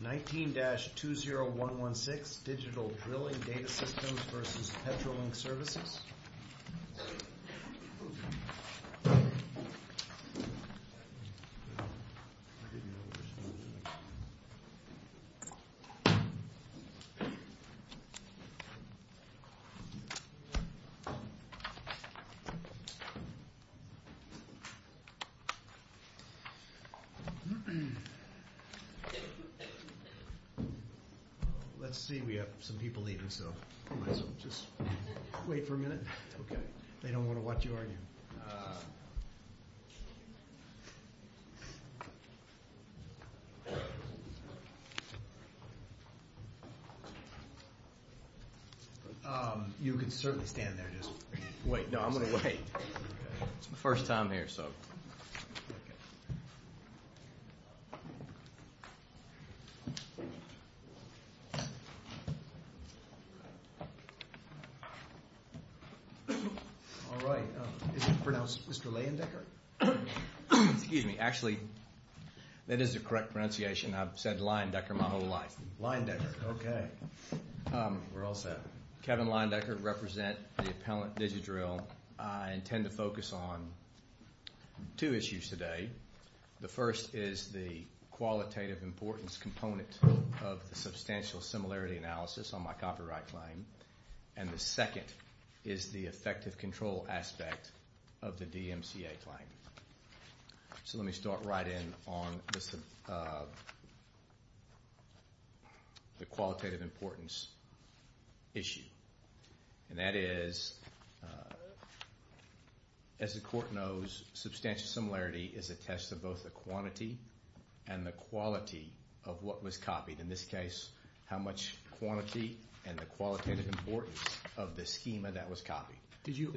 19-2016 Digital Drilling Data Systems v. Petrolink Services 19-2016 Digital Drilling Data Systems v. Petrolink All right. Is it pronounced Mr. Leyendecker? Excuse me. Actually, that is the correct pronunciation. I've said Leyendecker my whole life. Leyendecker. Okay. We're all set. Kevin Leyendecker represent the Appellant Digital Drill. I intend to focus on two issues today. The first is the qualitative importance component of the substantial similarity analysis on my copyright claim. And the second is the effective control aspect of the DMCA claim. So let me start right in on the qualitative importance issue. And that is, as the court knows, substantial similarity is a test of both the quantity and the quality of what was copied. In this case, how much quantity and the qualitative importance of the schema that was copied. Did you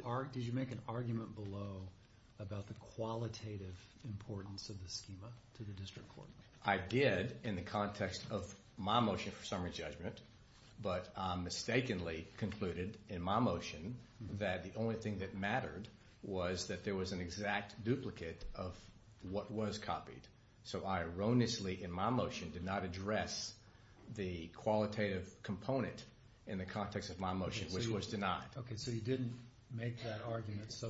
make an argument below about the qualitative importance of the schema to the district court? I did in the context of my motion for summary judgment. But I mistakenly concluded in my motion that the only thing that mattered was that there was an exact duplicate of what was copied. So I erroneously in my motion did not address the qualitative component in the context of my motion, which was denied. Okay. So you didn't make that argument. So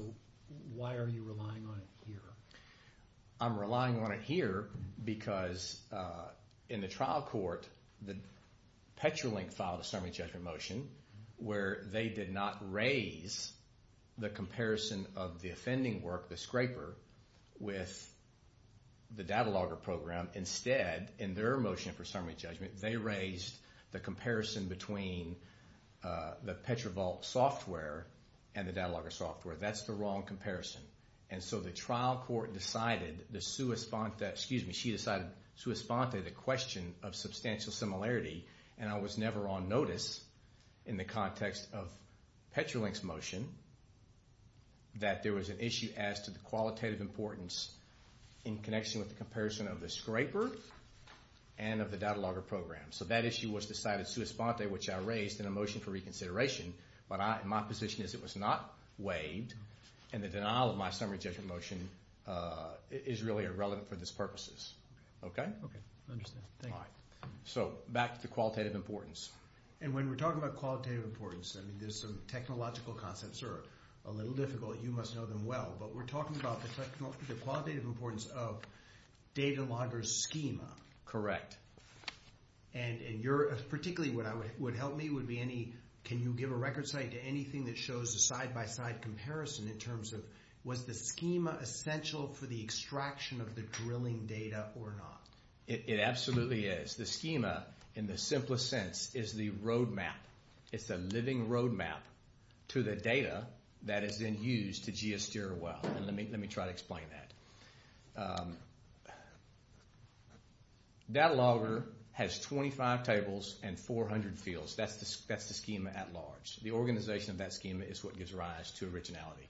why are you relying on it here? I'm relying on it here because in the trial court, the Petrolink filed a summary judgment motion where they did not raise the comparison of the offending work, the scraper, with the data logger program. Instead, in their motion for summary judgment, they raised the comparison between the Petrovault software and the data logger software. That's the wrong comparison. And so the trial court decided, she decided sui sponte, the question of substantial similarity. And I was never on notice in the context of Petrolink's motion that there was an issue as to the qualitative importance in connection with the comparison of the scraper and of the data logger program. So that issue was decided sui sponte, which I raised in a motion for reconsideration, but my position is it was not waived, and the denial of my summary judgment motion is really irrelevant for this purposes. Okay? Okay. I understand. Thank you. All right. So back to qualitative importance. And when we're talking about qualitative importance, I mean, there's some technological concepts that are a little difficult. You must know them well. But we're talking about the qualitative importance of data logger's schema. Correct. And particularly what would help me would be, can you give a record site to anything that shows a side-by-side comparison in terms of, was the schema essential for the extraction of the drilling data or not? It absolutely is. The schema, in the simplest sense, is the road map. It's the living road map to the data that is then used to geosteer a well. And let me try to explain that. Data logger has 25 tables and 400 fields. That's the schema at large. The organization of that schema is what gives rise to originality.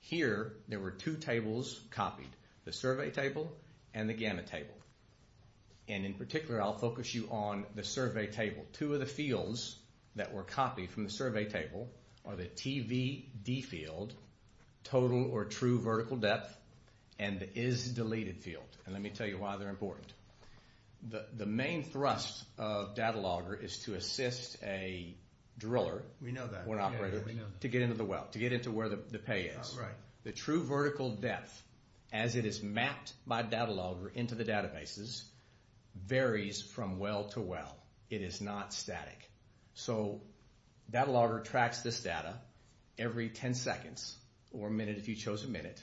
Here, there were two tables copied, the survey table and the gamma table. And in particular, I'll focus you on the survey table. Two of the fields that were copied from the survey table are the TVD field, total or true vertical depth, and the is deleted field. And let me tell you why they're important. The main thrust of data logger is to assist a driller or an operator to get into the well, to get into where the pay is. The true vertical depth, as it is mapped by data logger into the databases, varies from well to well. It is not static. Data logger tracks this data every 10 seconds or minute if you chose a minute.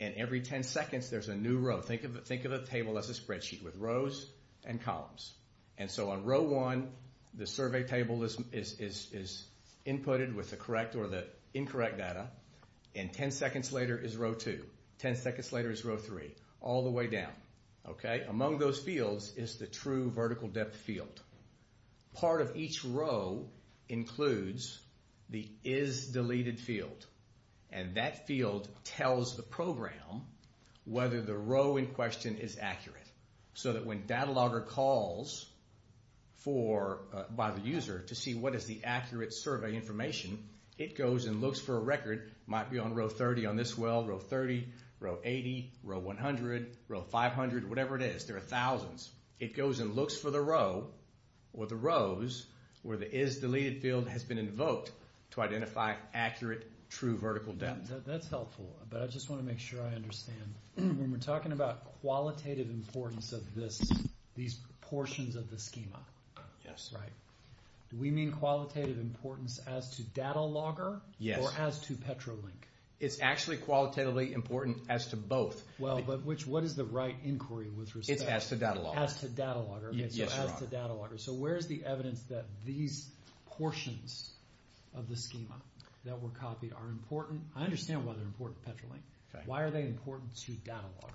And every 10 seconds, there's a new row. Think of the table as a spreadsheet with rows and columns. And so on row one, the survey table is inputted with the correct or the incorrect data. And 10 seconds later is row two. 10 seconds later is row three, all the way down. Among those fields is the true vertical depth field. Part of each row includes the is deleted field. And that field tells the program whether the row in question is accurate. So that when data logger calls by the user to see what is the accurate survey information, it goes and looks for a record, might be on row 30 on this well, row 30, row 80, row 100, row 500, whatever it is. There are thousands. It goes and looks for the row or the rows where the is deleted field has been invoked to identify accurate true vertical depth. That's helpful, but I just want to make sure I understand. When we're talking about qualitative importance of these portions of the schema, do we mean qualitative importance as to data logger or as to PetroLink? It's actually qualitatively important as to both. Well, but what is the right inquiry with respect? It's as to data logger. As to data logger. Yes, Your Honor. As to data logger. So where is the evidence that these portions of the schema that were copied are important? I understand why they're important to PetroLink. Why are they important to data logger?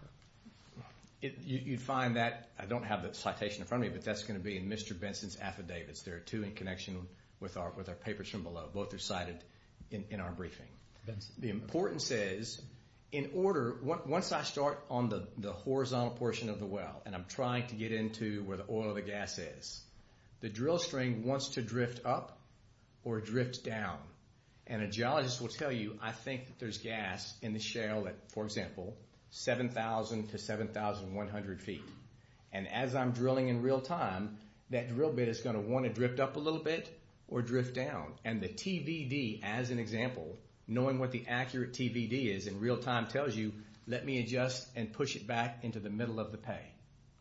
You'd find that, I don't have the citation in front of me, but that's going to be in Mr. Benson's affidavits. There are two in connection with our papers from below. Both are cited in our briefing. The importance is, in order, once I start on the horizontal portion of the well and I'm trying to get into where the oil or the gas is, the drill string wants to drift up or drift down. And a geologist will tell you, I think that there's gas in the shale at, for example, 7,000 to 7,100 feet. And as I'm drilling in real time, that drill bit is going to want to drift up a little bit or drift down. And the TVD, as an example, knowing what the accurate TVD is in real time tells you, let me adjust and push it back into the middle of the pay.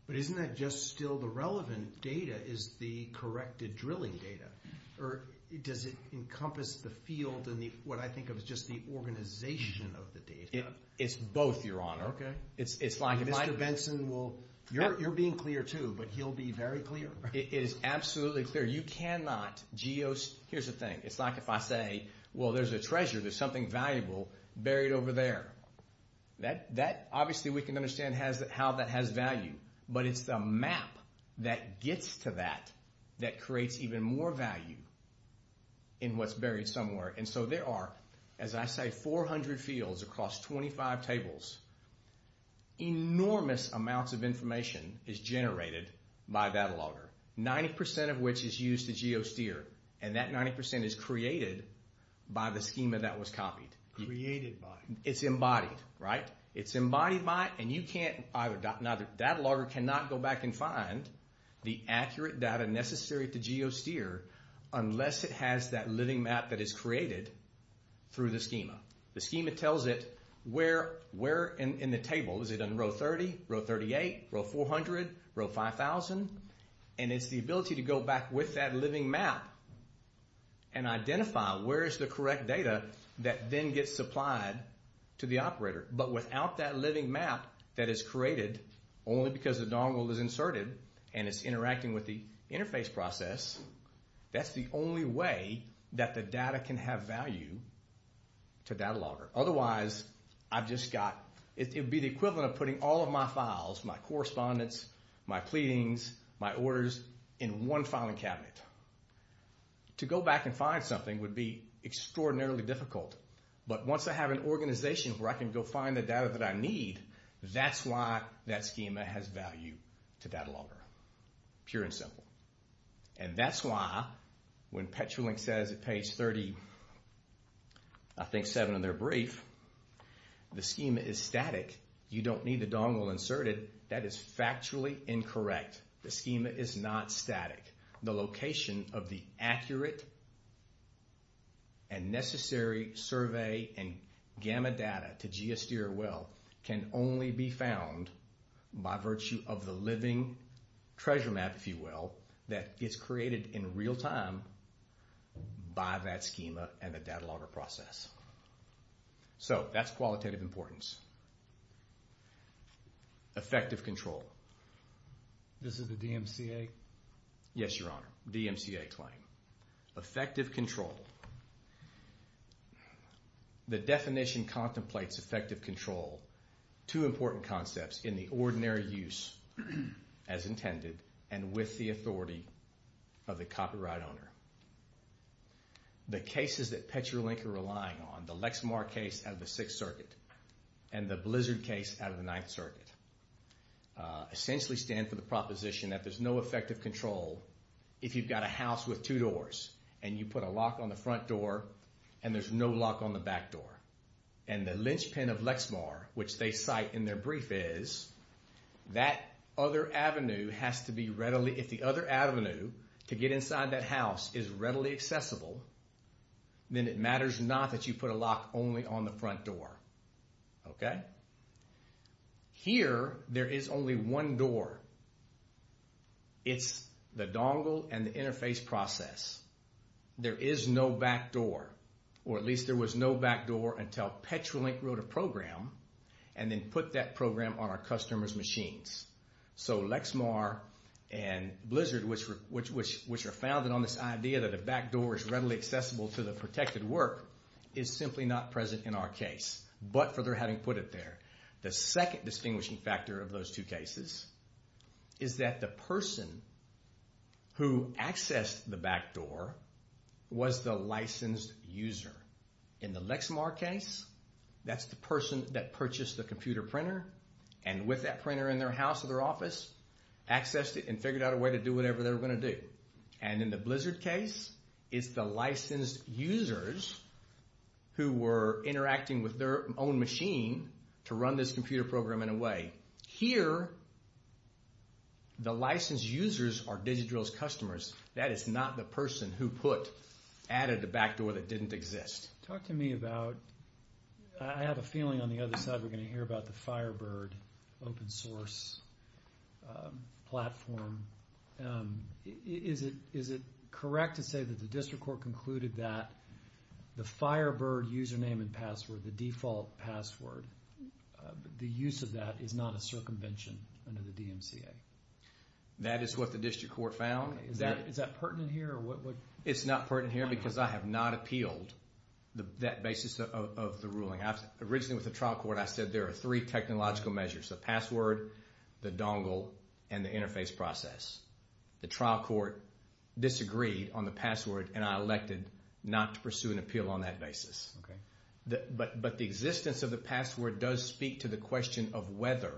But isn't that just still the relevant data is the corrected drilling data? Or does it encompass the field and what I think of as just the organization of the data? It's both, Your Honor. Mr. Benson, you're being clear too, but he'll be very clear. It is absolutely clear. You cannot geos... Here's the thing. It's like if I say, well, there's a treasure, there's something valuable buried over there. Obviously, we can understand how that has value. But it's the map that gets to that that creates even more value in what's buried somewhere. And so there are, as I say, 400 fields across 25 tables. Enormous amounts of information is generated by data logger, 90% of which is used to geosteer. And that 90% is created by the schema that was copied. Created by? It's embodied, right? It's embodied by and you can't either... Data logger cannot go back and find the accurate data necessary to geosteer unless it has that living map that is created through the schema. The schema tells it where in the table. Is it in row 30, row 38, row 400, row 5,000? And it's the ability to go back with that living map and identify where is the correct data that then gets supplied to the operator. But without that living map that is created only because the dongle is inserted and it's interacting with the interface process, that's the only way that the data can have value to data logger. Otherwise, I've just got... It would be the equivalent of putting all of my files, my correspondence, my pleadings, my orders in one filing cabinet. To go back and find something would be extraordinarily difficult. But once I have an organization where I can go find the data that I need, that's why that schema has value to data logger. Pure and simple. And that's why when Petrolink says at page 30, I think 7 of their brief, the schema is static. You don't need the dongle inserted. That is factually incorrect. The schema is not static. The location of the accurate and necessary survey and gamma data to geosteer well can only be found by virtue of the living treasure map, if you will, that gets created in real time by that schema and the data logger process. So that's qualitative importance. Effective control. This is the DMCA? Yes, Your Honor, DMCA claim. Effective control. The definition contemplates effective control, two important concepts in the ordinary use as intended and with the authority of the copyright owner. The cases that Petrolink are relying on, the Lexmar case out of the Sixth Circuit and the Blizzard case out of the Ninth Circuit, essentially stand for the proposition that there's no effective control if you've got a house with two doors and you put a lock on the front door and there's no lock on the back door. And the lynchpin of Lexmar, which they cite in their brief, is that other avenue has to be readily, if the other avenue to get inside that house is readily accessible, then it matters not that you put a lock only on the front door. Okay? Here, there is only one door. It's the dongle and the interface process. There is no back door, or at least there was no back door until Petrolink wrote a program and then put that program on our customers' machines. So Lexmar and Blizzard, which are founded on this idea that a back door is readily accessible to the protected work, is simply not present in our case, but for their having put it there. The second distinguishing factor of those two cases is that the person who accessed the back door was the licensed user. In the Lexmar case, that's the person that purchased the computer printer and with that printer in their house or their office, accessed it and figured out a way to do whatever they were going to do. And in the Blizzard case, it's the licensed users who were interacting with their own machine to run this computer program in a way. Here, the licensed users are DigiDrill's customers. That is not the person who added the back door that didn't exist. Talk to me about, I have a feeling on the other side we're going to hear about the Firebird open source platform. Is it correct to say that the district court concluded that the Firebird username and password, the default password, the use of that is not a circumvention under the DMCA? That is what the district court found. Is that pertinent here? It's not pertinent here because I have not appealed that basis of the ruling. Originally with the trial court, I said there are three technological measures, the password, the dongle, and the interface process. The trial court disagreed on the password and I elected not to pursue an appeal on that basis. But the existence of the password does speak to the question of whether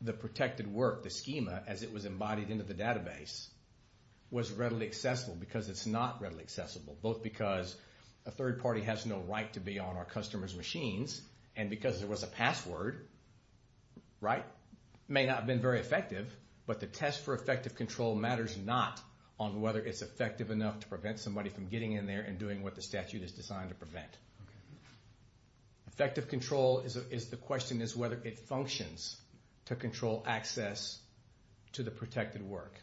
the protected work, the schema, as it was embodied into the database was readily accessible because it's not readily accessible, both because a third party has no right to be on our customers' machines and because there was a password. It may not have been very effective, but the test for effective control matters not on whether it's effective enough to prevent somebody from getting in there and doing what the statute is designed to prevent. Effective control, the question is whether it functions to control access to the protected work.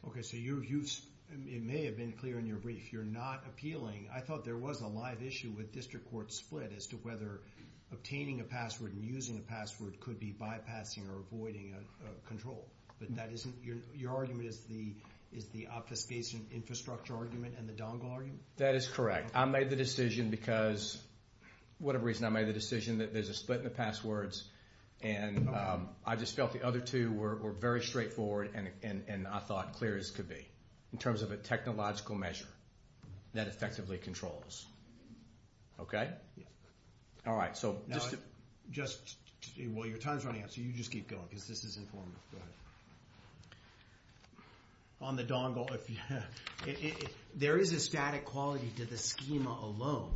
It may have been clear in your brief, you're not appealing. I thought there was a live issue with district court split as to whether obtaining a password and using a password could be bypassing or avoiding control. Your argument is the obfuscation infrastructure argument and the dongle argument? That is correct. I made the decision because, whatever reason, I made the decision that there's a split in the passwords and I just felt the other two were very straightforward and I thought clear as could be in terms of a technological measure that effectively controls. Okay. All right. Well, your time's running out, so you just keep going because this is informal. Go ahead. On the dongle, there is a static quality to the schema alone.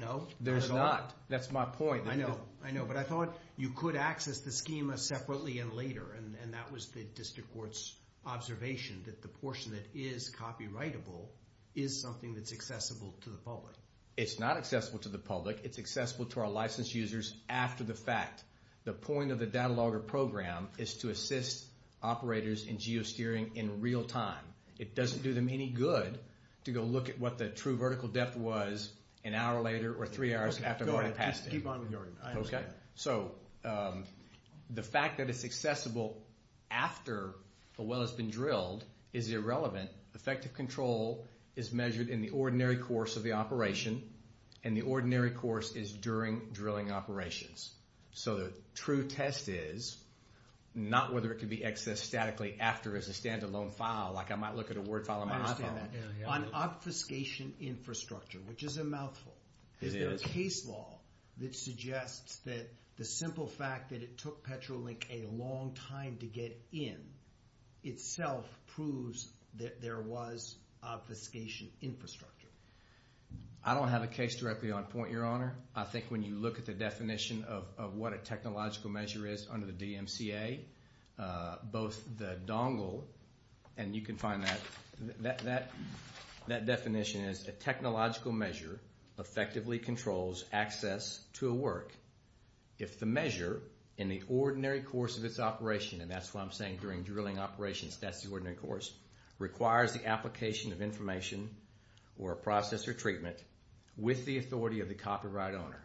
No? There's not. That's my point. I know, but I thought you could access the schema separately and later and that was the district court's observation that the portion that is copyrightable is something that's accessible to the public. It's not accessible to the public. It's accessible to our licensed users after the fact. The point of the data logger program is to assist operators in geosteering in real time. It doesn't do them any good to go look at what the true vertical depth was an hour later or three hours after I passed it. Go ahead. Keep on with your argument. Okay. So the fact that it's accessible after a well has been drilled is irrelevant. Effective control is measured in the ordinary course of the operation and the ordinary course is during drilling operations. So the true test is not whether it can be accessed statically after as a standalone file, like I might look at a word file on my iPhone. I understand that. On obfuscation infrastructure, which is a mouthful, is there a case law that suggests that the simple fact that it took Petrolink a long time to get in itself proves that there was obfuscation infrastructure? I don't have a case directly on point, Your Honor. I think when you look at the definition of what a technological measure is under the DMCA, both the dongle and you can find that definition is a technological measure effectively controls access to a work. If the measure in the ordinary course of its operation, and that's what I'm saying during drilling operations, that's the ordinary course, requires the application of information or a process or treatment with the authority of the copyright owner.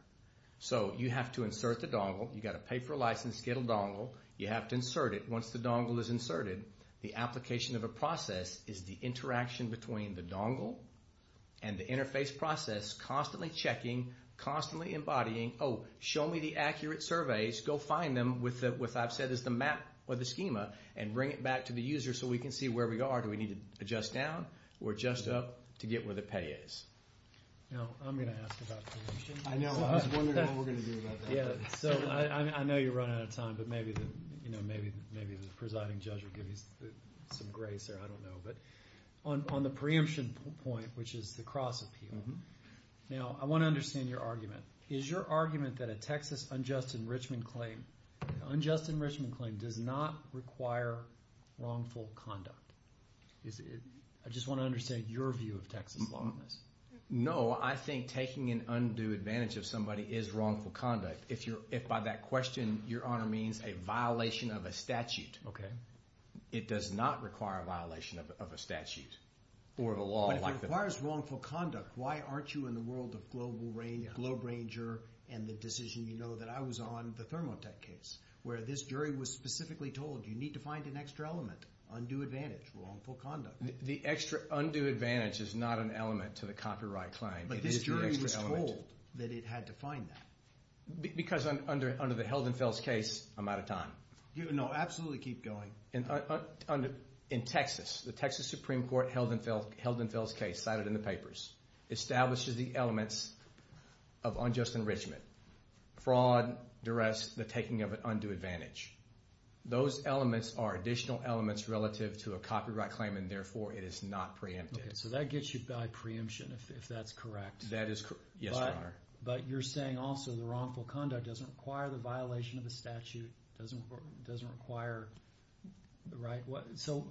So you have to insert the dongle. You've got to pay for a license to get a dongle. You have to insert it. Once the dongle is inserted, the application of a process is the interaction between the dongle and the interface process constantly checking, constantly embodying, oh, show me the accurate surveys. Go find them with what I've said is the map or the schema and bring it back to the user so we can see where we are. Do we need to adjust down or adjust up to get where the pay is? Now, I'm going to ask about preemption. I know. I was wondering what we're going to do about that. Yeah. So I know you're running out of time, but maybe the presiding judge will give you some grace there. I don't know. But on the preemption point, which is the cross appeal, now, I want to understand your argument. Is your argument that a Texas unjust enrichment claim, unjust enrichment claim does not require wrongful conduct? I just want to understand your view of Texas law on this. No, I think taking an undue advantage of somebody is wrongful conduct. If by that question, Your Honor, means a violation of a statute, it does not require a violation of a statute or of a law. But if it requires wrongful conduct, why aren't you in the world of global range, globe ranger, and the decision you know that I was on, the Thermotech case, where this jury was specifically told, you need to find an extra element, undue advantage, wrongful conduct. The extra undue advantage is not an element to the copyright claim. But this jury was told that it had to find that. Because under the Heldenfels case, I'm out of time. No, absolutely keep going. In Texas, the Texas Supreme Court Heldenfels case cited in the papers establishes the elements of unjust enrichment. Fraud, duress, the taking of an undue advantage. Those elements are additional elements relative to a copyright claim, and therefore it is not preemptive. Okay, so that gets you by preemption, if that's correct. That is correct, yes, Your Honor. But you're saying also the wrongful conduct doesn't require the violation of a statute, doesn't require, right? So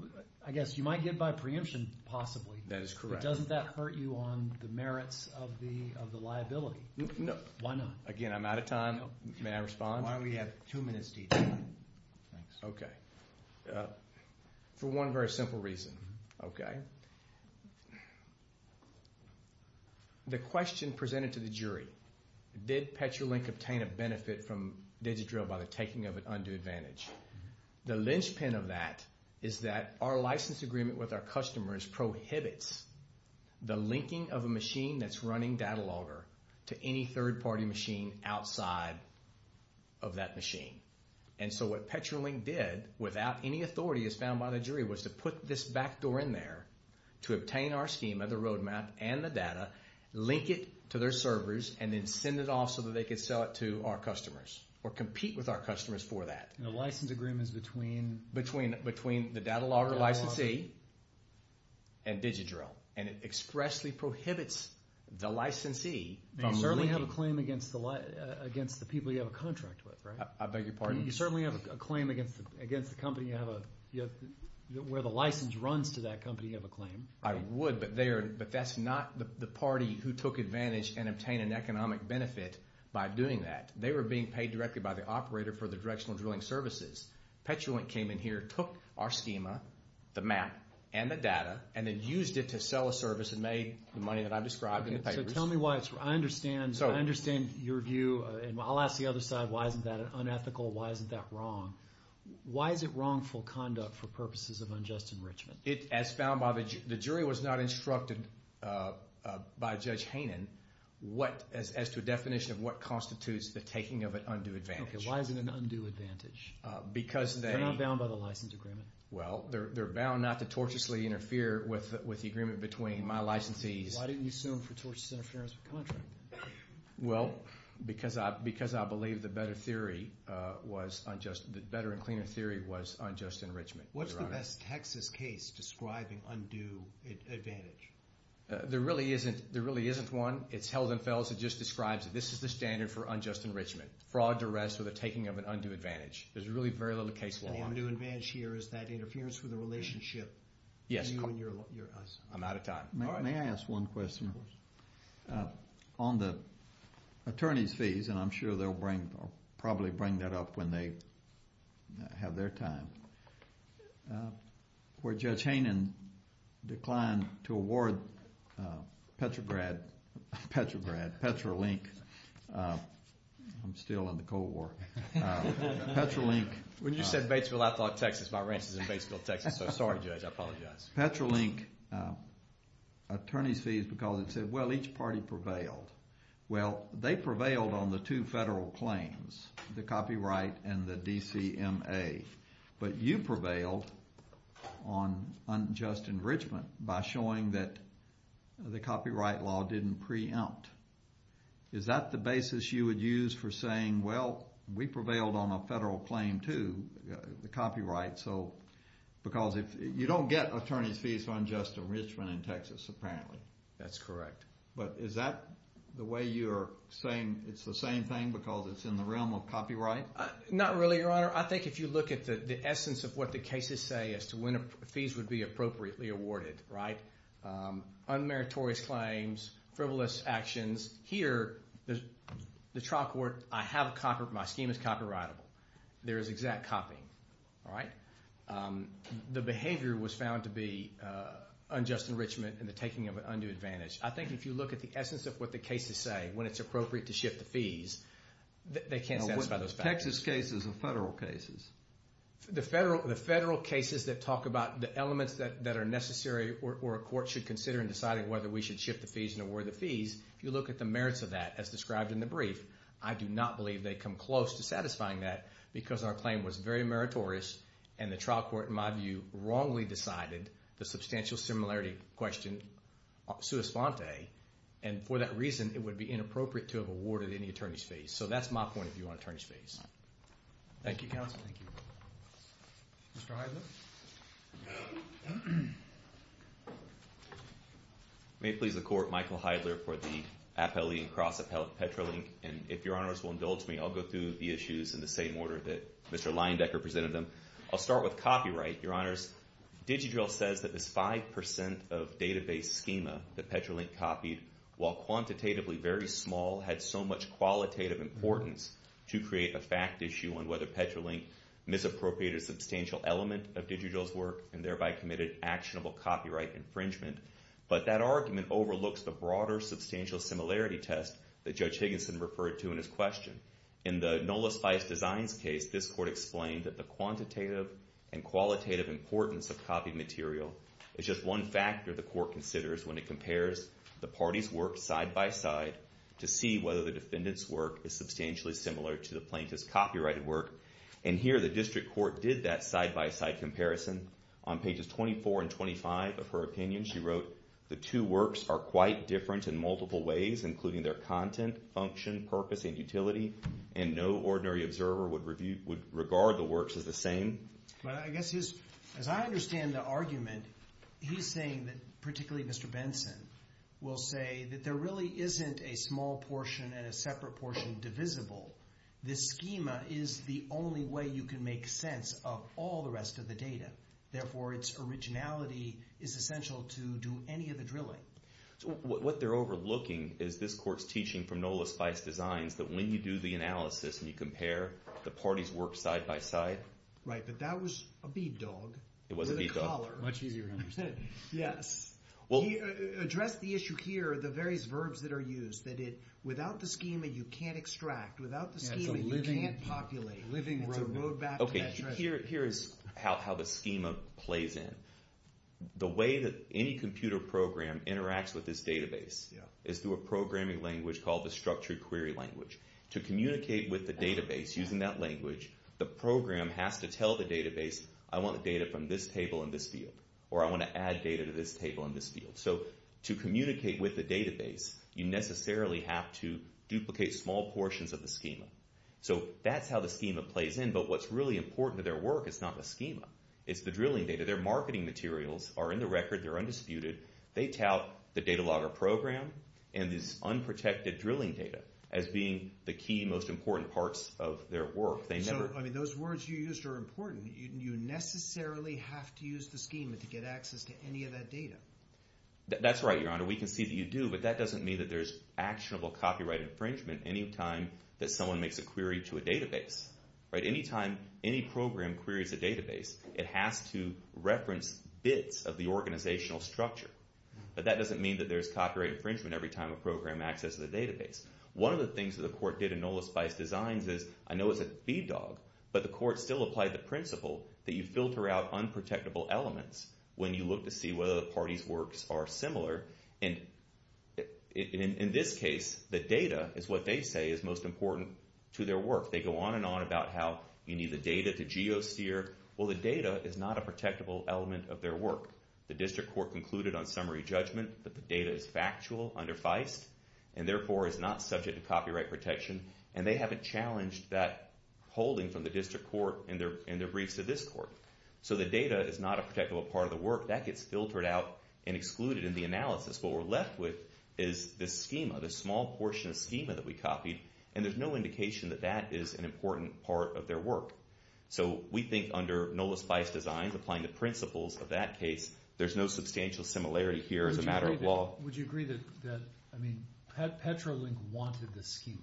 I guess you might get by preemption, possibly. That is correct. But doesn't that hurt you on the merits of the liability? No. Why not? Again, I'm out of time. May I respond? Why don't we have two minutes to each side. Okay. For one very simple reason. Okay. The question presented to the jury, did Petrolink obtain a benefit from digit drill by the taking of an undue advantage? The linchpin of that is that our license agreement with our customers prohibits the linking of a machine that's running Datalogger to any third-party machine outside of that machine. And so what Petrolink did, without any authority as found by the jury, was to put this backdoor in there to obtain our schema, the roadmap, and the data, link it to their servers, and then send it off so that they could sell it to our customers or compete with our customers for that. And the license agreement is between? Between the Datalogger licensee and DigiDrill. And it expressly prohibits the licensee from linking. You certainly have a claim against the people you have a contract with, right? I beg your pardon? You certainly have a claim against the company where the license runs to that company. You have a claim. I would, but that's not the party who took advantage and obtained an economic benefit by doing that. They were being paid directly by the operator for the directional drilling services. Petrolink came in here, took our schema, the map, and the data, and then used it to sell a service and made the money that I've described in the papers. So tell me why it's wrong. I understand your view, and I'll ask the other side, why isn't that unethical? Why isn't that wrong? Why is it wrongful conduct for purposes of unjust enrichment? It, as found by the jury, was not instructed by Judge Haynen as to a definition of what constitutes the taking of an undue advantage. Okay, why is it an undue advantage? Because they— They're not bound by the license agreement. Well, they're bound not to tortuously interfere with the agreement between my licensees. Why didn't you sue them for tortuous interference with contract? Well, because I believe the better theory was unjust—the better and cleaner theory was unjust enrichment, Your Honor. What's the best Texas case describing undue advantage? There really isn't one. It's Heldenfels that just describes it. This is the standard for unjust enrichment, fraud, duress, or the taking of an undue advantage. There's really very little case law on it. The undue advantage here is that interference with the relationship between you and your license. I'm out of time. May I ask one question? Of course. On the attorney's fees, and I'm sure they'll bring—probably bring that up when they have their time, where Judge Haynen declined to award Petrograd—Petrograd—Petrolink—I'm still in the Cold War. Petrolink— When you said Batesville, I thought Texas. My ranch is in Batesville, Texas. So sorry, Judge. I apologize. Petrolink attorney's fees because it said, well, each party prevailed. Well, they prevailed on the two federal claims, the copyright and the DCMA. But you prevailed on unjust enrichment by showing that the copyright law didn't preempt. Is that the basis you would use for saying, well, we prevailed on a federal claim too, the copyright, because you don't get attorney's fees for unjust enrichment in Texas, apparently. That's correct. But is that the way you're saying it's the same thing because it's in the realm of copyright? Not really, Your Honor. I think if you look at the essence of what the cases say as to when fees would be appropriately awarded, right? Unmeritorious claims, frivolous actions. Here, the trial court—I have a copyright. My scheme is copyrightable. There is exact copying. All right? The behavior was found to be unjust enrichment and the taking of an undue advantage. I think if you look at the essence of what the cases say when it's appropriate to shift the fees, they can't satisfy those factors. Texas cases and federal cases. The federal cases that talk about the elements that are necessary or a court should consider in deciding whether we should shift the fees and award the fees, if you look at the merits of that as described in the brief, I do not believe they come close to satisfying that because our claim was very meritorious, and the trial court, in my view, wrongly decided the substantial similarity question sui sponte. And for that reason, it would be inappropriate to have awarded any attorney's fees. So that's my point of view on attorney's fees. Thank you, counsel. Thank you. Mr. Heidler? May it please the court, Michael Heidler for the Appellee and Cross-Appellate Petrolink. And if your honors will indulge me, I'll go through the issues in the same order that Mr. Leyendecker presented them. I'll start with copyright, your honors. DigiDrill says that this 5% of database schema that Petrolink copied, while quantitatively very small, had so much qualitative importance to create a fact issue on whether Petrolink misappropriated a substantial element of DigiDrill's work and thereby committed actionable copyright infringement. But that argument overlooks the broader substantial similarity test that Judge Higginson referred to in his question. In the Nola Spice Designs case, this court explained that the quantitative and qualitative importance of copied material is just one factor the court considers when it compares the party's work side-by-side to see whether the defendant's work is substantially similar to the plaintiff's copyrighted work. And here, the district court did that side-by-side comparison. On pages 24 and 25 of her opinion, she wrote, the two works are quite different in multiple ways, including their content, function, purpose, and utility, and no ordinary observer would regard the works as the same. But I guess, as I understand the argument, he's saying that, particularly Mr. Benson, will say that there really isn't a small portion and a separate portion divisible. This schema is the only way you can make sense of all the rest of the data. Therefore, its originality is essential to do any of the drilling. So what they're overlooking is this court's teaching from Nola Spice Designs that when you do the analysis and you compare the parties' work side-by-side Right, but that was a bead dog. It was a bead dog. Much easier to understand. Yes. He addressed the issue here, the various verbs that are used, that without the schema, you can't extract. Without the schema, you can't populate. It's a living road map. It's a road map to that treasure. Okay, here is how the schema plays in. The way that any computer program interacts with this database is through a programming language called the structured query language. To communicate with the database using that language, the program has to tell the database, I want the data from this table in this field, or I want to add data to this table in this field. So to communicate with the database, you necessarily have to duplicate small portions of the schema. So that's how the schema plays in, but what's really important to their work is not the schema. It's the drilling data. Their marketing materials are in the record. They're undisputed. They tout the data logger program and this unprotected drilling data as being the key, most important parts of their work. So, I mean, those words you used are important. You necessarily have to use the schema to get access to any of that data. That's right, Your Honor. We can see that you do, but that doesn't mean that there's actionable copyright infringement any time that someone makes a query to a database. Anytime any program queries a database, it has to reference bits of the organizational structure. But that doesn't mean that there's copyright infringement every time a program accesses a database. One of the things that the court did in Nola Spice Designs is, I know it's a feed dog, but the court still applied the principle that you filter out unprotectable elements when you look to see whether the party's works are similar. And in this case, the data is what they say is most important to their work. They go on and on about how you need the data to geo-steer. Well, the data is not a protectable element of their work. The district court concluded on summary judgment that the data is factual under Feist and, therefore, is not subject to copyright protection. And they haven't challenged that holding from the district court in their briefs to this court. So, the data is not a protectable part of the work. That gets filtered out and excluded in the analysis. What we're left with is this schema, this small portion of schema that we copied. And there's no indication that that is an important part of their work. So, we think under Nola Spice Designs, applying the principles of that case, there's no substantial similarity here as a matter of law. Would you agree that Petrolink wanted this schema?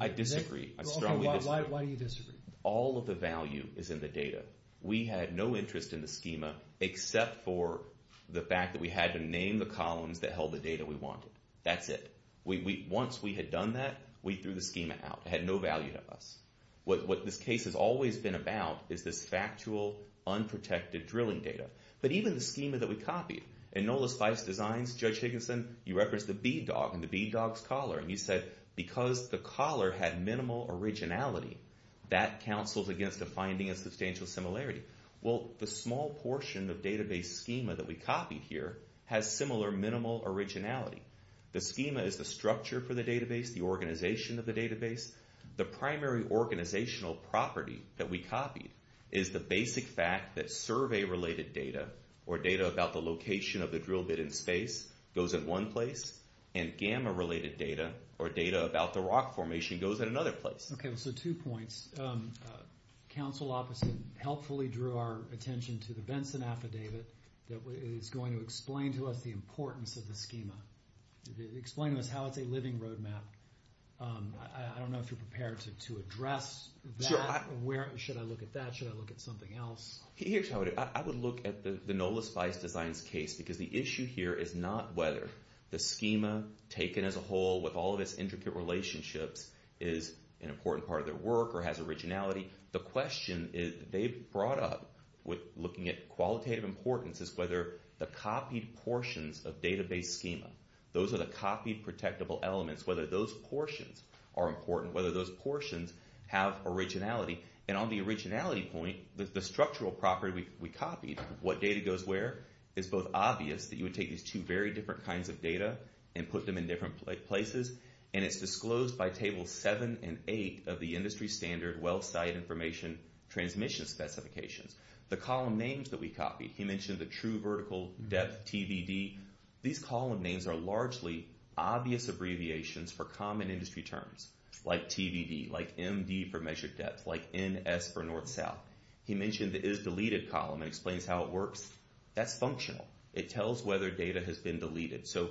I disagree. I strongly disagree. Why do you disagree? All of the value is in the data. We had no interest in the schema except for the fact that we had to name the columns that held the data we wanted. That's it. Once we had done that, we threw the schema out. It had no value to us. What this case has always been about is this factual, unprotected drilling data. But even the schema that we copied, in Nola Spice Designs, Judge Higginson, you referenced the bead dog and the bead dog's collar. And he said, because the collar had minimal originality, that counsels against a finding of substantial similarity. Well, the small portion of database schema that we copied here has similar minimal originality. The schema is the structure for the database, the organization of the database. The primary organizational property that we copied is the basic fact that survey-related data, or data about the location of the drill bit in space, goes in one place. And gamma-related data, or data about the rock formation, goes in another place. Okay, so two points. Counsel opposite helpfully drew our attention to the Venson Affidavit that is going to explain to us the importance of the schema. Explain to us how it's a living roadmap. I don't know if you're prepared to address that. Should I look at that? Should I look at something else? Here's how I would do it. I would look at the Nola Spice Designs case. Because the issue here is not whether the schema, taken as a whole, with all of its intricate relationships, is an important part of their work or has originality. The question they brought up, looking at qualitative importance, is whether the copied portions of database schema, those are the copied protectable elements, whether those portions are important, whether those portions have originality. And on the originality point, the structural property we copied, what data goes where, is both obvious, that you would take these two very different kinds of data and put them in different places, and it's disclosed by table seven and eight of the industry standard well-studied information transmission specifications. The column names that we copied, he mentioned the true vertical depth, TBD. These column names are largely obvious abbreviations for common industry terms, like TBD, like MD for measured depth, like NS for north-south. He mentioned the is deleted column. It explains how it works. That's functional. It tells whether data has been deleted. So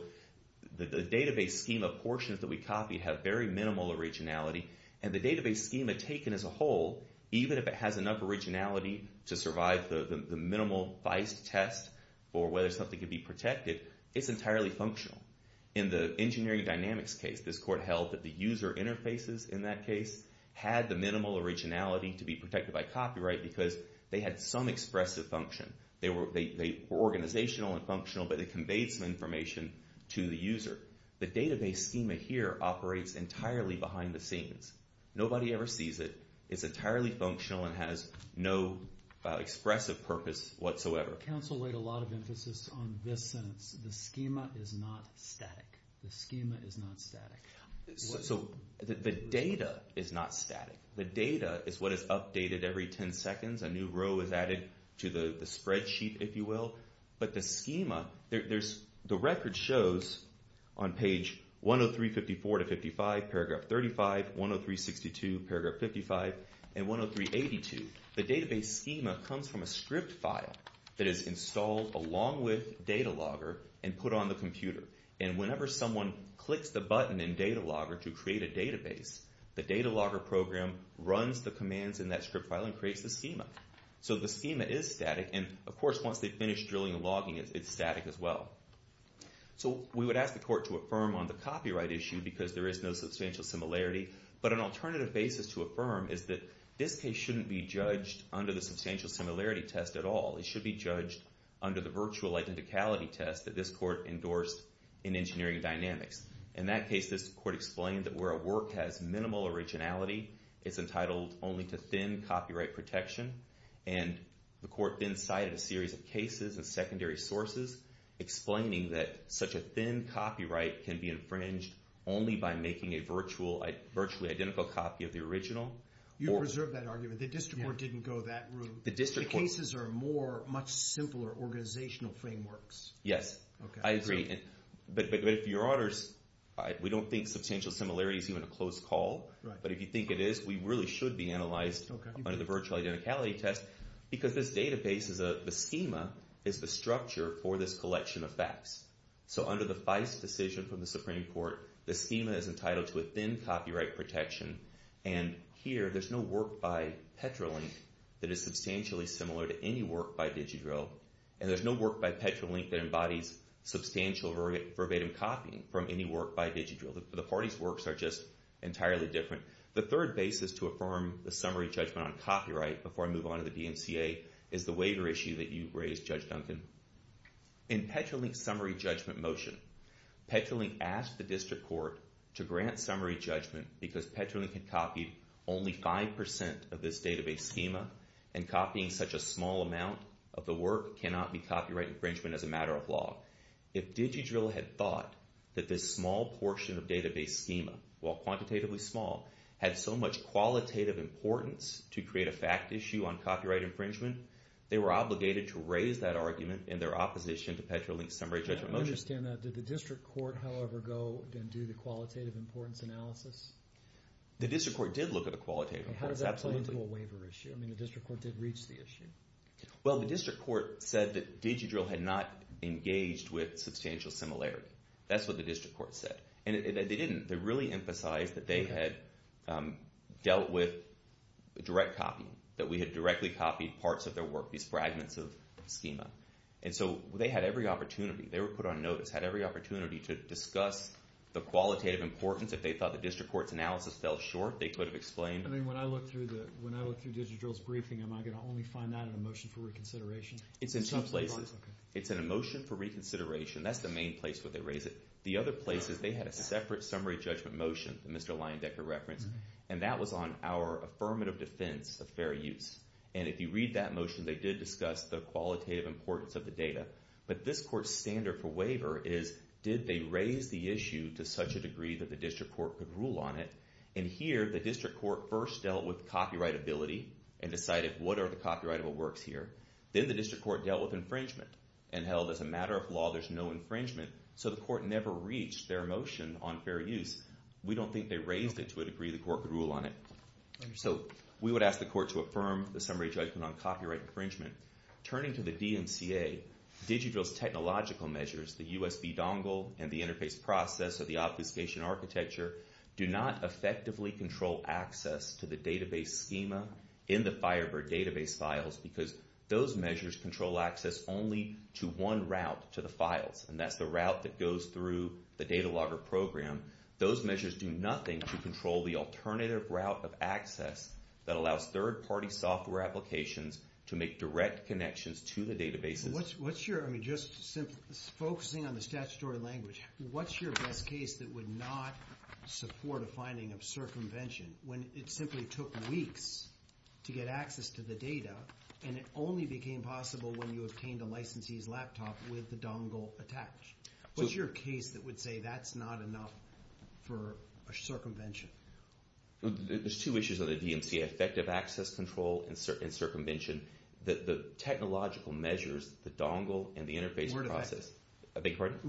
the database schema portions that we copied have very minimal originality, and the database schema taken as a whole, even if it has enough originality to survive the minimal feist test for whether something can be protected, it's entirely functional. In the engineering dynamics case, this court held that the user interfaces in that case had the minimal originality to be protected by copyright because they had some expressive function. They were organizational and functional, but they conveyed some information to the user. The database schema here operates entirely behind the scenes. Nobody ever sees it. It's entirely functional and has no expressive purpose whatsoever. Counsel weighed a lot of emphasis on this sentence, the schema is not static. The schema is not static. So the data is not static. The data is what is updated every 10 seconds. A new row is added to the spreadsheet, if you will. But the schema, the record shows on page 103.54 to 55, paragraph 35, 103.62, paragraph 55, and 103.82. The database schema comes from a script file that is installed along with DataLogger and put on the computer. And whenever someone clicks the button in DataLogger to create a database, the DataLogger program runs the commands in that script file and creates the schema. So the schema is static, and of course, once they finish drilling and logging, it's static as well. So we would ask the court to affirm on the copyright issue because there is no substantial similarity. But an alternative basis to affirm is that this case shouldn't be judged under the substantial similarity test at all. It should be judged under the virtual identicality test that this court endorsed in engineering dynamics. In that case, this court explained that where a work has minimal originality, it's entitled only to thin copyright protection. And the court then cited a series of cases and secondary sources explaining that such a thin copyright can be infringed only by making a virtually identical copy of the original. You preserved that argument. The district court didn't go that route. The district court— The cases are more much simpler organizational frameworks. Yes. I agree. But if your orders—we don't think substantial similarity is even a close call. But if you think it is, we really should be analyzed under the virtual identicality test because this database is a—the schema is the structure for this collection of facts. So under the FICE decision from the Supreme Court, the schema is entitled to a thin copyright protection. And here, there's no work by Petrolink that is substantially similar to any work by DigiDrill. And there's no work by Petrolink that embodies substantial verbatim copying from any work by DigiDrill. The parties' works are just entirely different. The third basis to affirm the summary judgment on copyright before I move on to the DMCA is the waiver issue that you raised, Judge Duncan. In Petrolink's summary judgment motion, Petrolink asked the district court to grant summary judgment because Petrolink had copied only 5 percent of this database schema. And copying such a small amount of the work cannot be copyright infringement as a matter of law. If DigiDrill had thought that this small portion of database schema, while quantitatively small, had so much qualitative importance to create a fact issue on copyright infringement, they were obligated to raise that argument in their opposition to Petrolink's summary judgment motion. I don't understand that. Did the district court, however, go and do the qualitative importance analysis? The district court did look at the qualitative importance, absolutely. How does that play into a waiver issue? I mean, the district court did reach the issue. Well, the district court said that DigiDrill had not engaged with substantial similarity. That's what the district court said. And they didn't. They really emphasized that they had dealt with direct copying, that we had directly copied parts of their work, these fragments of schema. And so they had every opportunity. They were put on notice, had every opportunity to discuss the qualitative importance. If they thought the district court's analysis fell short, they could have explained. I mean, when I look through DigiDrill's briefing, am I going to only find that in a motion for reconsideration? It's in two places. It's in a motion for reconsideration. That's the main place where they raise it. The other place is they had a separate summary judgment motion that Mr. Leyendecker referenced, and that was on our affirmative defense of fair use. And if you read that motion, they did discuss the qualitative importance of the data. But this court's standard for waiver is, did they raise the issue to such a degree that the district court could rule on it? And here, the district court first dealt with copyrightability and decided what are the copyrightable works here. Then the district court dealt with infringement and held, as a matter of law, there's no infringement. So the court never reached their motion on fair use. We don't think they raised it to a degree the court could rule on it. So we would ask the court to affirm the summary judgment on copyright infringement. Turning to the DMCA, digital's technological measures, the USB dongle and the interface process of the obfuscation architecture, do not effectively control access to the database schema in the Firebird database files because those measures control access only to one route to the files. And that's the route that goes through the data logger program. Those measures do nothing to control the alternative route of access that allows third-party software applications to make direct connections to the databases. What's your, I mean, just focusing on the statutory language, what's your best case that would not support a finding of circumvention when it simply took weeks to get access to the data and it only became possible when you obtained a licensee's laptop with the dongle attached? What's your case that would say that's not enough for a circumvention? There's two issues on the DMCA, effective access control and circumvention. The technological measures, the dongle and the interface process.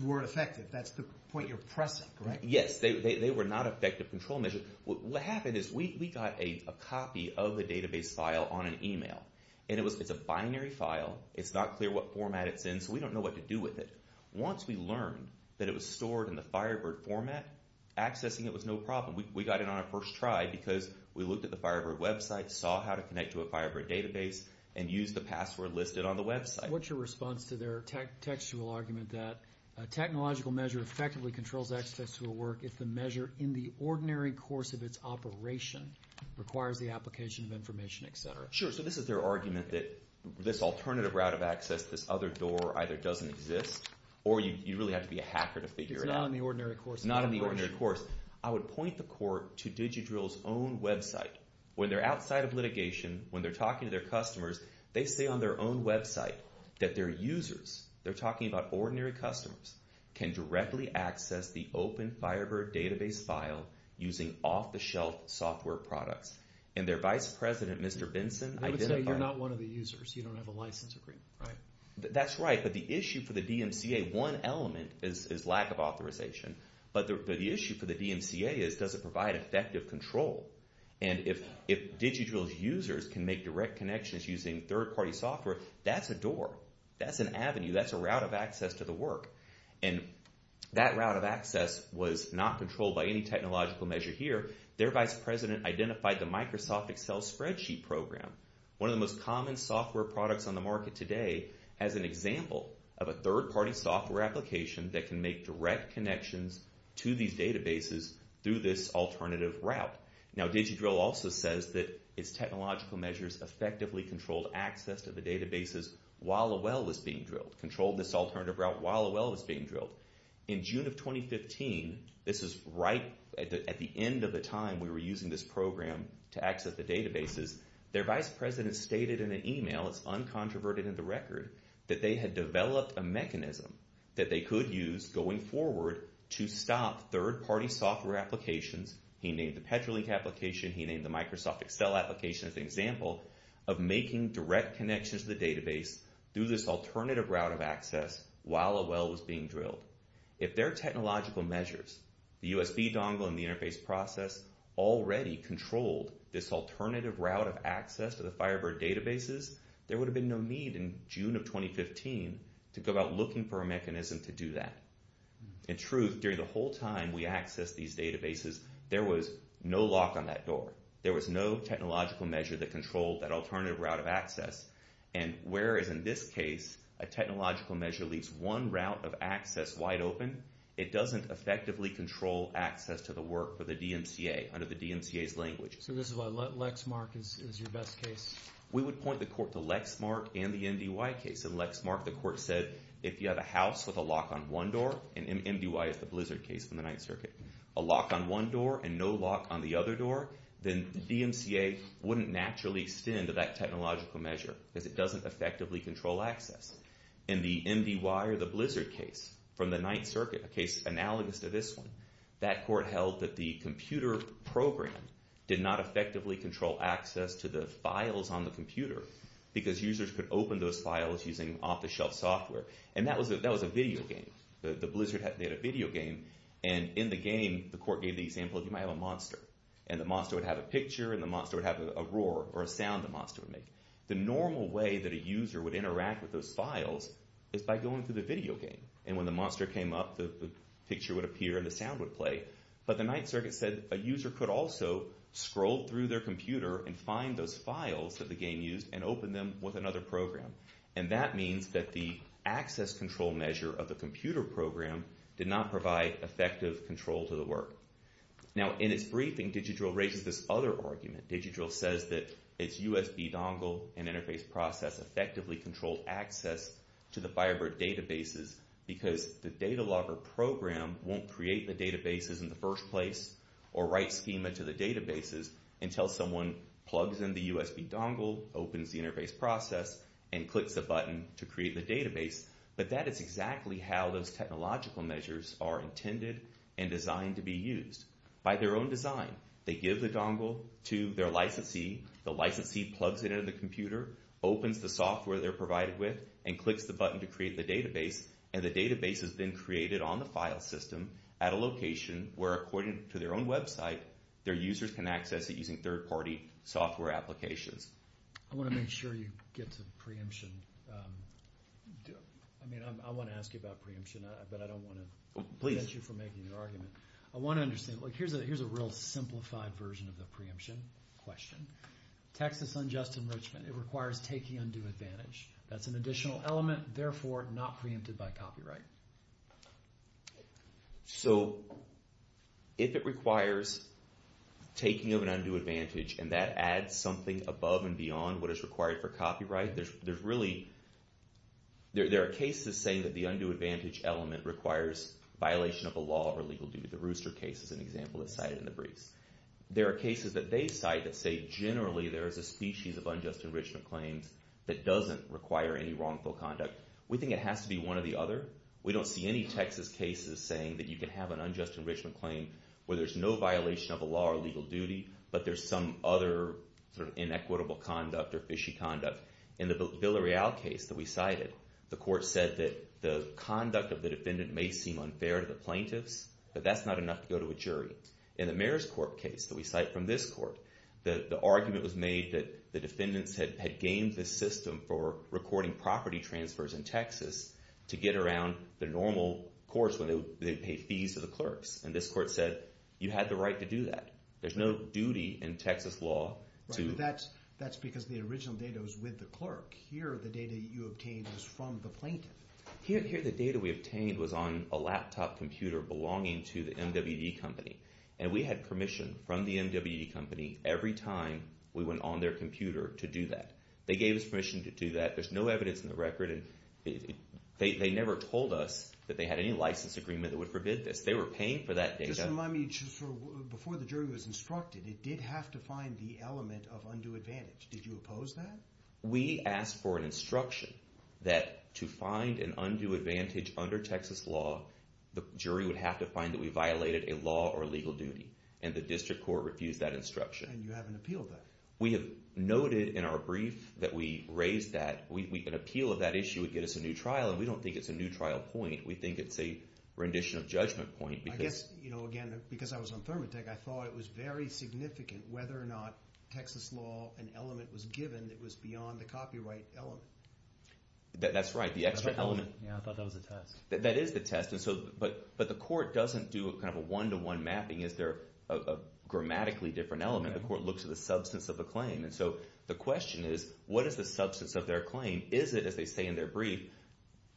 Were effective. That's the point you're pressing, correct? Yes, they were not effective control measures. What happened is we got a copy of the database file on an email, and it's a binary file. It's not clear what format it's in, so we don't know what to do with it. Once we learned that it was stored in the Firebird format, accessing it was no problem. We got it on our first try because we looked at the Firebird website, saw how to connect to a Firebird database, and used the password listed on the website. What's your response to their textual argument that a technological measure effectively controls access to a work if the measure in the ordinary course of its operation requires the application of information, et cetera? Sure, so this is their argument that this alternative route of access, this other door, either doesn't exist or you really have to be a hacker to figure it out. It's not in the ordinary course. It's not in the ordinary course. I would point the court to DigiDrill's own website. When they're outside of litigation, when they're talking to their customers, they say on their own website that their users, they're talking about ordinary customers, can directly access the open Firebird database file using off-the-shelf software products. And their vice president, Mr. Benson, identified that. You would say you're not one of the users. You don't have a license agreement, right? That's right, but the issue for the DMCA, one element is lack of authorization, but the issue for the DMCA is does it provide effective control? And if DigiDrill's users can make direct connections using third-party software, that's a door. That's an avenue. That's a route of access to the work. And that route of access was not controlled by any technological measure here. Their vice president identified the Microsoft Excel spreadsheet program, one of the most common software products on the market today, as an example of a third-party software application that can make direct connections to these databases through this alternative route. Now, DigiDrill also says that its technological measures effectively controlled access to the databases while a well was being drilled, controlled this alternative route while a well was being drilled. In June of 2015, this is right at the end of the time we were using this program to access the databases, their vice president stated in an email, it's uncontroverted in the record, that they had developed a mechanism that they could use going forward to stop third-party software applications. He named the Petrolink application. He named the Microsoft Excel application as an example of making direct connections to the database through this alternative route of access while a well was being drilled. If their technological measures, the USB dongle and the interface process, already controlled this alternative route of access to the Firebird databases, there would have been no need in June of 2015 to go out looking for a mechanism to do that. In truth, during the whole time we accessed these databases, there was no lock on that door. There was no technological measure that controlled that alternative route of access. And whereas in this case, a technological measure leaves one route of access wide open, it doesn't effectively control access to the work for the DMCA under the DMCA's language. So this is why Lexmark is your best case. We would point the court to Lexmark and the MDY case. In Lexmark, the court said if you have a house with a lock on one door, and MDY is the blizzard case from the Ninth Circuit, a lock on one door and no lock on the other door, then the DMCA wouldn't naturally extend to that technological measure because it doesn't effectively control access. In the MDY or the blizzard case from the Ninth Circuit, a case analogous to this one, that court held that the computer program did not effectively control access to the files on the computer because users could open those files using off-the-shelf software. And that was a video game. The blizzard had a video game. And in the game, the court gave the example of you might have a monster. And the monster would have a picture and the monster would have a roar or a sound the monster would make. The normal way that a user would interact with those files is by going through the video game. And when the monster came up, the picture would appear and the sound would play. But the Ninth Circuit said a user could also scroll through their computer and find those files that the game used and open them with another program. And that means that the access control measure of the computer program did not provide effective control to the work. Now, in its briefing, DigiDrill raises this other argument. DigiDrill says that its USB dongle and interface process effectively controlled access to the Firebird databases because the data logger program won't create the databases in the first place or write schema to the databases until someone plugs in the USB dongle, opens the interface process, and clicks the button to create the database. But that is exactly how those technological measures are intended and designed to be used. By their own design, they give the dongle to their licensee. The licensee plugs it into the computer, opens the software they're provided with, and clicks the button to create the database. And the database is then created on the file system at a location where, according to their own website, their users can access it using third-party software applications. I want to make sure you get to preemption. I mean, I want to ask you about preemption, but I don't want to prevent you from making your argument. I want to understand. Here's a real simplified version of the preemption question. Texas unjust enrichment. It requires taking undue advantage. That's an additional element, therefore not preempted by copyright. So if it requires taking of an undue advantage, and that adds something above and beyond what is required for copyright, there are cases saying that the undue advantage element requires violation of a law or legal duty. The Rooster case is an example that's cited in the briefs. There are cases that they cite that say generally there is a species of unjust enrichment claims that doesn't require any wrongful conduct. We think it has to be one or the other. We don't see any Texas cases saying that you can have an unjust enrichment claim where there's no violation of a law or legal duty, but there's some other sort of inequitable conduct or fishy conduct. In the Villarreal case that we cited, the court said that the conduct of the defendant may seem unfair to the plaintiffs, but that's not enough to go to a jury. In the Mayor's Court case that we cite from this court, the argument was made that the defendants had gamed the system for recording property transfers in Texas to get around the normal course when they would pay fees to the clerks, and this court said you had the right to do that. There's no duty in Texas law to— Right, but that's because the original data was with the clerk. Here the data you obtained was from the plaintiff. Here the data we obtained was on a laptop computer belonging to the MWD company, and we had permission from the MWD company every time we went on their computer to do that. They gave us permission to do that. There's no evidence in the record. They never told us that they had any license agreement that would forbid this. They were paying for that data. Just remind me, before the jury was instructed, it did have to find the element of undue advantage. Did you oppose that? We asked for an instruction that to find an undue advantage under Texas law, the jury would have to find that we violated a law or legal duty, and the district court refused that instruction. And you haven't appealed that? We have noted in our brief that we raised that. An appeal of that issue would get us a new trial, and we don't think it's a new trial point. We think it's a rendition of judgment point. I guess, you know, again, because I was on ThermoTech, I thought it was very significant whether or not Texas law, an element was given that was beyond the copyright element. That's right, the extra element. Yeah, I thought that was a test. That is the test. But the court doesn't do kind of a one-to-one mapping. Is there a grammatically different element? The court looks at the substance of the claim. And so the question is, what is the substance of their claim? Is it, as they say in their brief,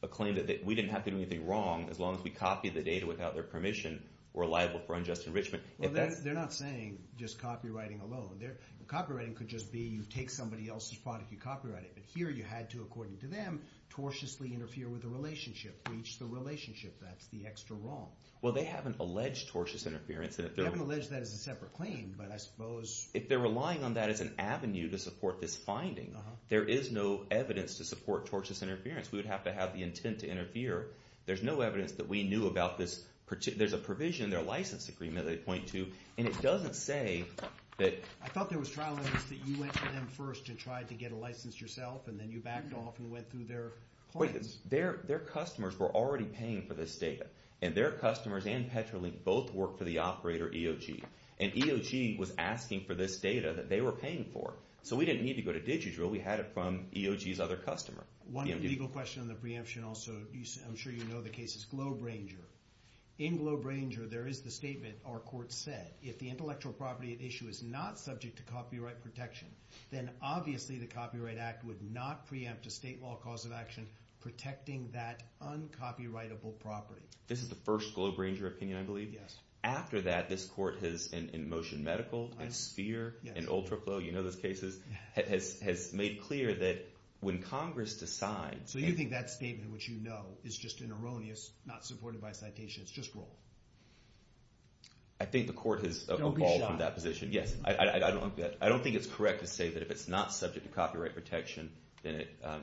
a claim that we didn't have to do anything wrong as long as we copied the data without their permission or liable for unjust enrichment? They're not saying just copywriting alone. Copywriting could just be you take somebody else's product, you copyright it. But here you had to, according to them, tortiously interfere with the relationship, breach the relationship. That's the extra wrong. Well, they haven't alleged tortious interference. They haven't alleged that as a separate claim, but I suppose... If they're relying on that as an avenue to support this finding, there is no evidence to support tortious interference. We would have to have the intent to interfere. There's no evidence that we knew about this. There's a provision in their license agreement that they point to, and it doesn't say that... I thought there was trial evidence that you went to them first and tried to get a license yourself, and then you backed off and went through their claims. Their customers were already paying for this data, and their customers and Petrolink both work for the operator EOG. And EOG was asking for this data that they were paying for. So we didn't need to go to DigiDrill. We had it from EOG's other customer, EMD. One legal question on the preemption also. I'm sure you know the cases. GlobeRanger. In GlobeRanger, there is the statement our court said. If the intellectual property at issue is not subject to copyright protection, then obviously the Copyright Act would not preempt a state law cause of action protecting that uncopyrightable property. This is the first GlobeRanger opinion, I believe? Yes. After that, this court has, in Motion Medical, in Sphere, in UltraFlow, you know those cases, has made clear that when Congress decides... So you think that statement, which you know, is just an erroneous, not supported by a citation, it's just wrong? I think the court has evolved from that position. No, we should not. I don't think it's correct to say that if it's not subject to copyright protection, then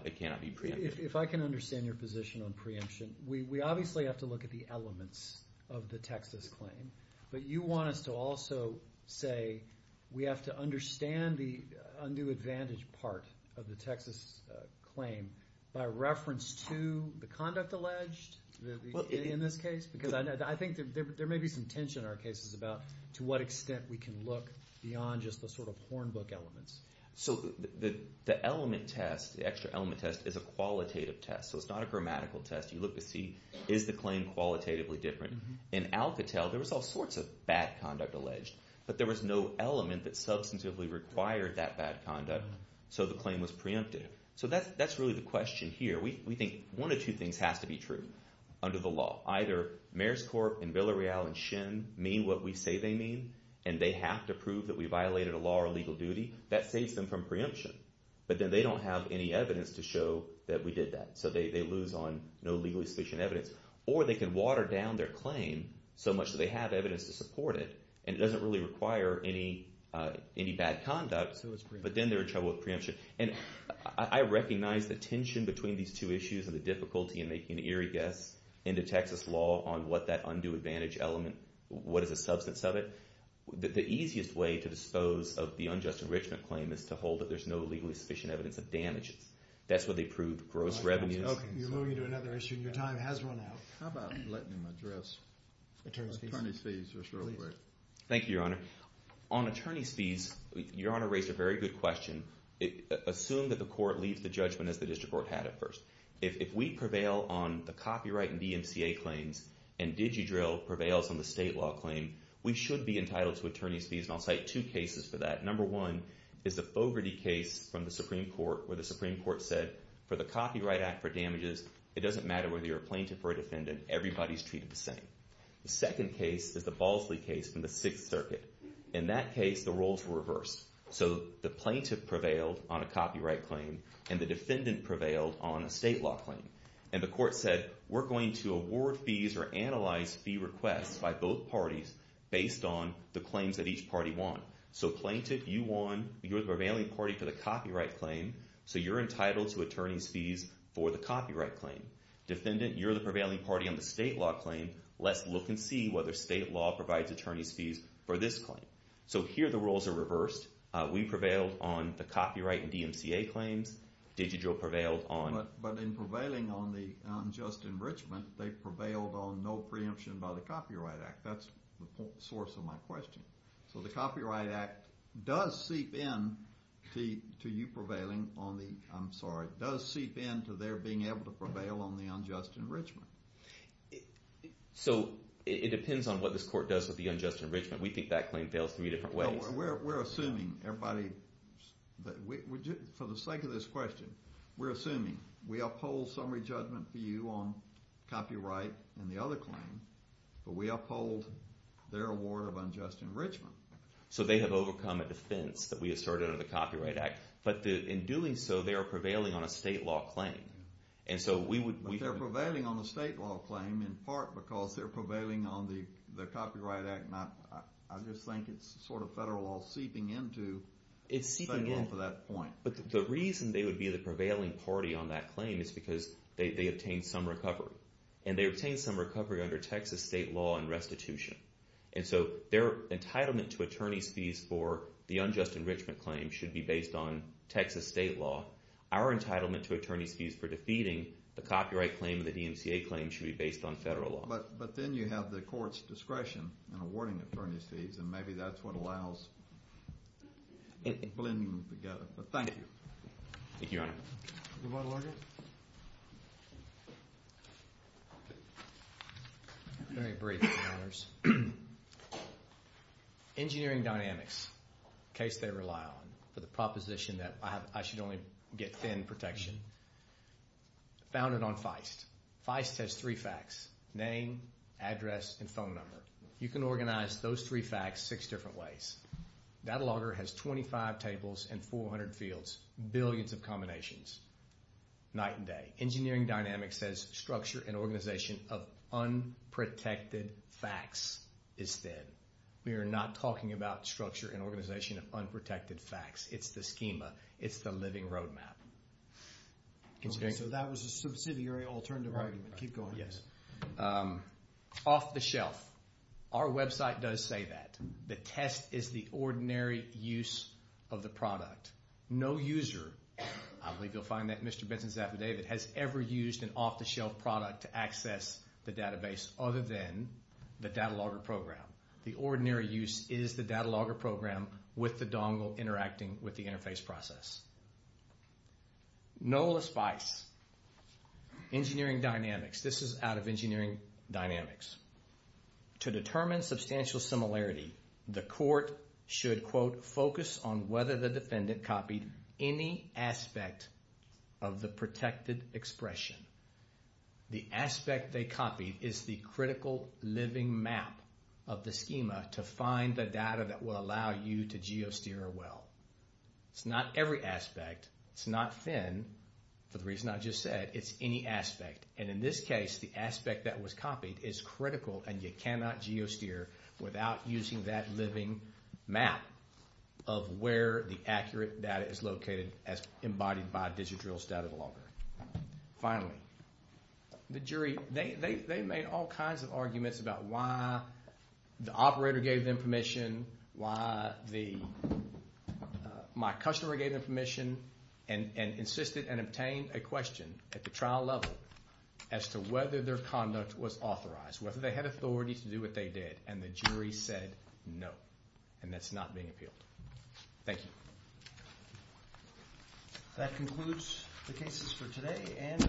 it cannot be preempted. If I can understand your position on preemption, we obviously have to look at the elements of the Texas claim. But you want us to also say we have to understand the undue advantage part of the Texas claim by reference to the conduct alleged in this case? Because I think there may be some tension in our cases about to what extent we can look beyond just the sort of hornbook elements. So the element test, the extra element test, is a qualitative test, so it's not a grammatical test. You look to see, is the claim qualitatively different? In Alcatel, there was all sorts of bad conduct alleged, but there was no element that substantively required that bad conduct, so the claim was preempted. So that's really the question here. We think one of two things has to be true under the law. Either Maerskorp and Villareal and Shin mean what we say they mean, and they have to prove that we violated a law or legal duty. That saves them from preemption. But then they don't have any evidence to show that we did that, so they lose on no legally sufficient evidence. Or they can water down their claim so much that they have evidence to support it, and it doesn't really require any bad conduct, but then they're in trouble with preemption. And I recognize the tension between these two issues and the difficulty in making an eerie guess into Texas law on what that undue advantage element, what is the substance of it. The easiest way to dispose of the unjust enrichment claim is to hold that there's no legally sufficient evidence of damages. That's where they prove gross revenues. You're moving to another issue, and your time has run out. How about letting him address attorney's fees just real quick? Thank you, Your Honor. On attorney's fees, Your Honor raised a very good question. Assume that the court leaves the judgment as the district court had at first. If we prevail on the copyright and DMCA claims and DigiDrill prevails on the state law claim, we should be entitled to attorney's fees. And I'll cite two cases for that. Number one is the Fogarty case from the Supreme Court where the Supreme Court said for the Copyright Act for damages, it doesn't matter whether you're a plaintiff or a defendant. Everybody's treated the same. The second case is the Balsley case from the Sixth Circuit. In that case, the roles were reversed. So the plaintiff prevailed on a copyright claim, and the defendant prevailed on a state law claim. And the court said, we're going to award fees or analyze fee requests by both parties based on the claims that each party won. So plaintiff, you won. You're the prevailing party for the copyright claim, so you're entitled to attorney's fees for the copyright claim. Defendant, you're the prevailing party on the state law claim. Let's look and see whether state law provides attorney's fees for this claim. So here the roles are reversed. We prevailed on the copyright and DMCA claims. Digital prevailed on- But in prevailing on the unjust enrichment, they prevailed on no preemption by the Copyright Act. That's the source of my question. So the Copyright Act does seep in to you prevailing on the-I'm sorry- does seep in to their being able to prevail on the unjust enrichment. So it depends on what this court does with the unjust enrichment. We think that claim fails three different ways. We're assuming everybody-for the sake of this question, we're assuming. We uphold summary judgment for you on copyright and the other claim, but we uphold their award of unjust enrichment. So they have overcome a defense that we asserted under the Copyright Act, but in doing so they are prevailing on a state law claim. But they're prevailing on the state law claim in part because they're prevailing on the Copyright Act. I just think it's sort of federal law seeping into- It's seeping in. But the reason they would be the prevailing party on that claim is because they obtained some recovery, and they obtained some recovery under Texas state law and restitution. And so their entitlement to attorney's fees for the unjust enrichment claim should be based on Texas state law. Our entitlement to attorney's fees for defeating the copyright claim and the DMCA claim should be based on federal law. But then you have the court's discretion in awarding attorney's fees, and maybe that's what allows blending them together. But thank you. Thank you, Your Honor. Rebuttal order. Very brief, Your Honors. Engineering Dynamics, a case they rely on for the proposition that I should only get thin protection, founded on Feist. Feist has three facts, name, address, and phone number. You can organize those three facts six different ways. That order has 25 tables and 400 fields, billions of combinations, night and day. Engineering Dynamics says structure and organization of unprotected facts is thin. We are not talking about structure and organization of unprotected facts. It's the schema. It's the living roadmap. Okay, so that was a subsidiary alternative argument. Keep going. Yes. Off the shelf. Our website does say that. The test is the ordinary use of the product. No user, I believe you'll find that Mr. Benson Zaffoday, that has ever used an off-the-shelf product to access the database other than the data logger program. The ordinary use is the data logger program with the dongle interacting with the interface process. Nola Spice, Engineering Dynamics. This is out of Engineering Dynamics. To determine substantial similarity, the court should, quote, focus on whether the defendant copied any aspect of the protected expression. The aspect they copied is the critical living map of the schema to find the data that will allow you to geosteer well. It's not every aspect. It's not thin. For the reason I just said, it's any aspect. And in this case, the aspect that was copied is critical and you cannot geosteer without using that living map of where the accurate data is located as embodied by a digital data logger. Finally, the jury, they made all kinds of arguments about why the operator gave them permission, why my customer gave them permission, and insisted and obtained a question at the trial level as to whether their conduct was authorized, whether they had authority to do what they did, and the jury said no, and that's not being appealed. Thank you. That concludes the cases for today.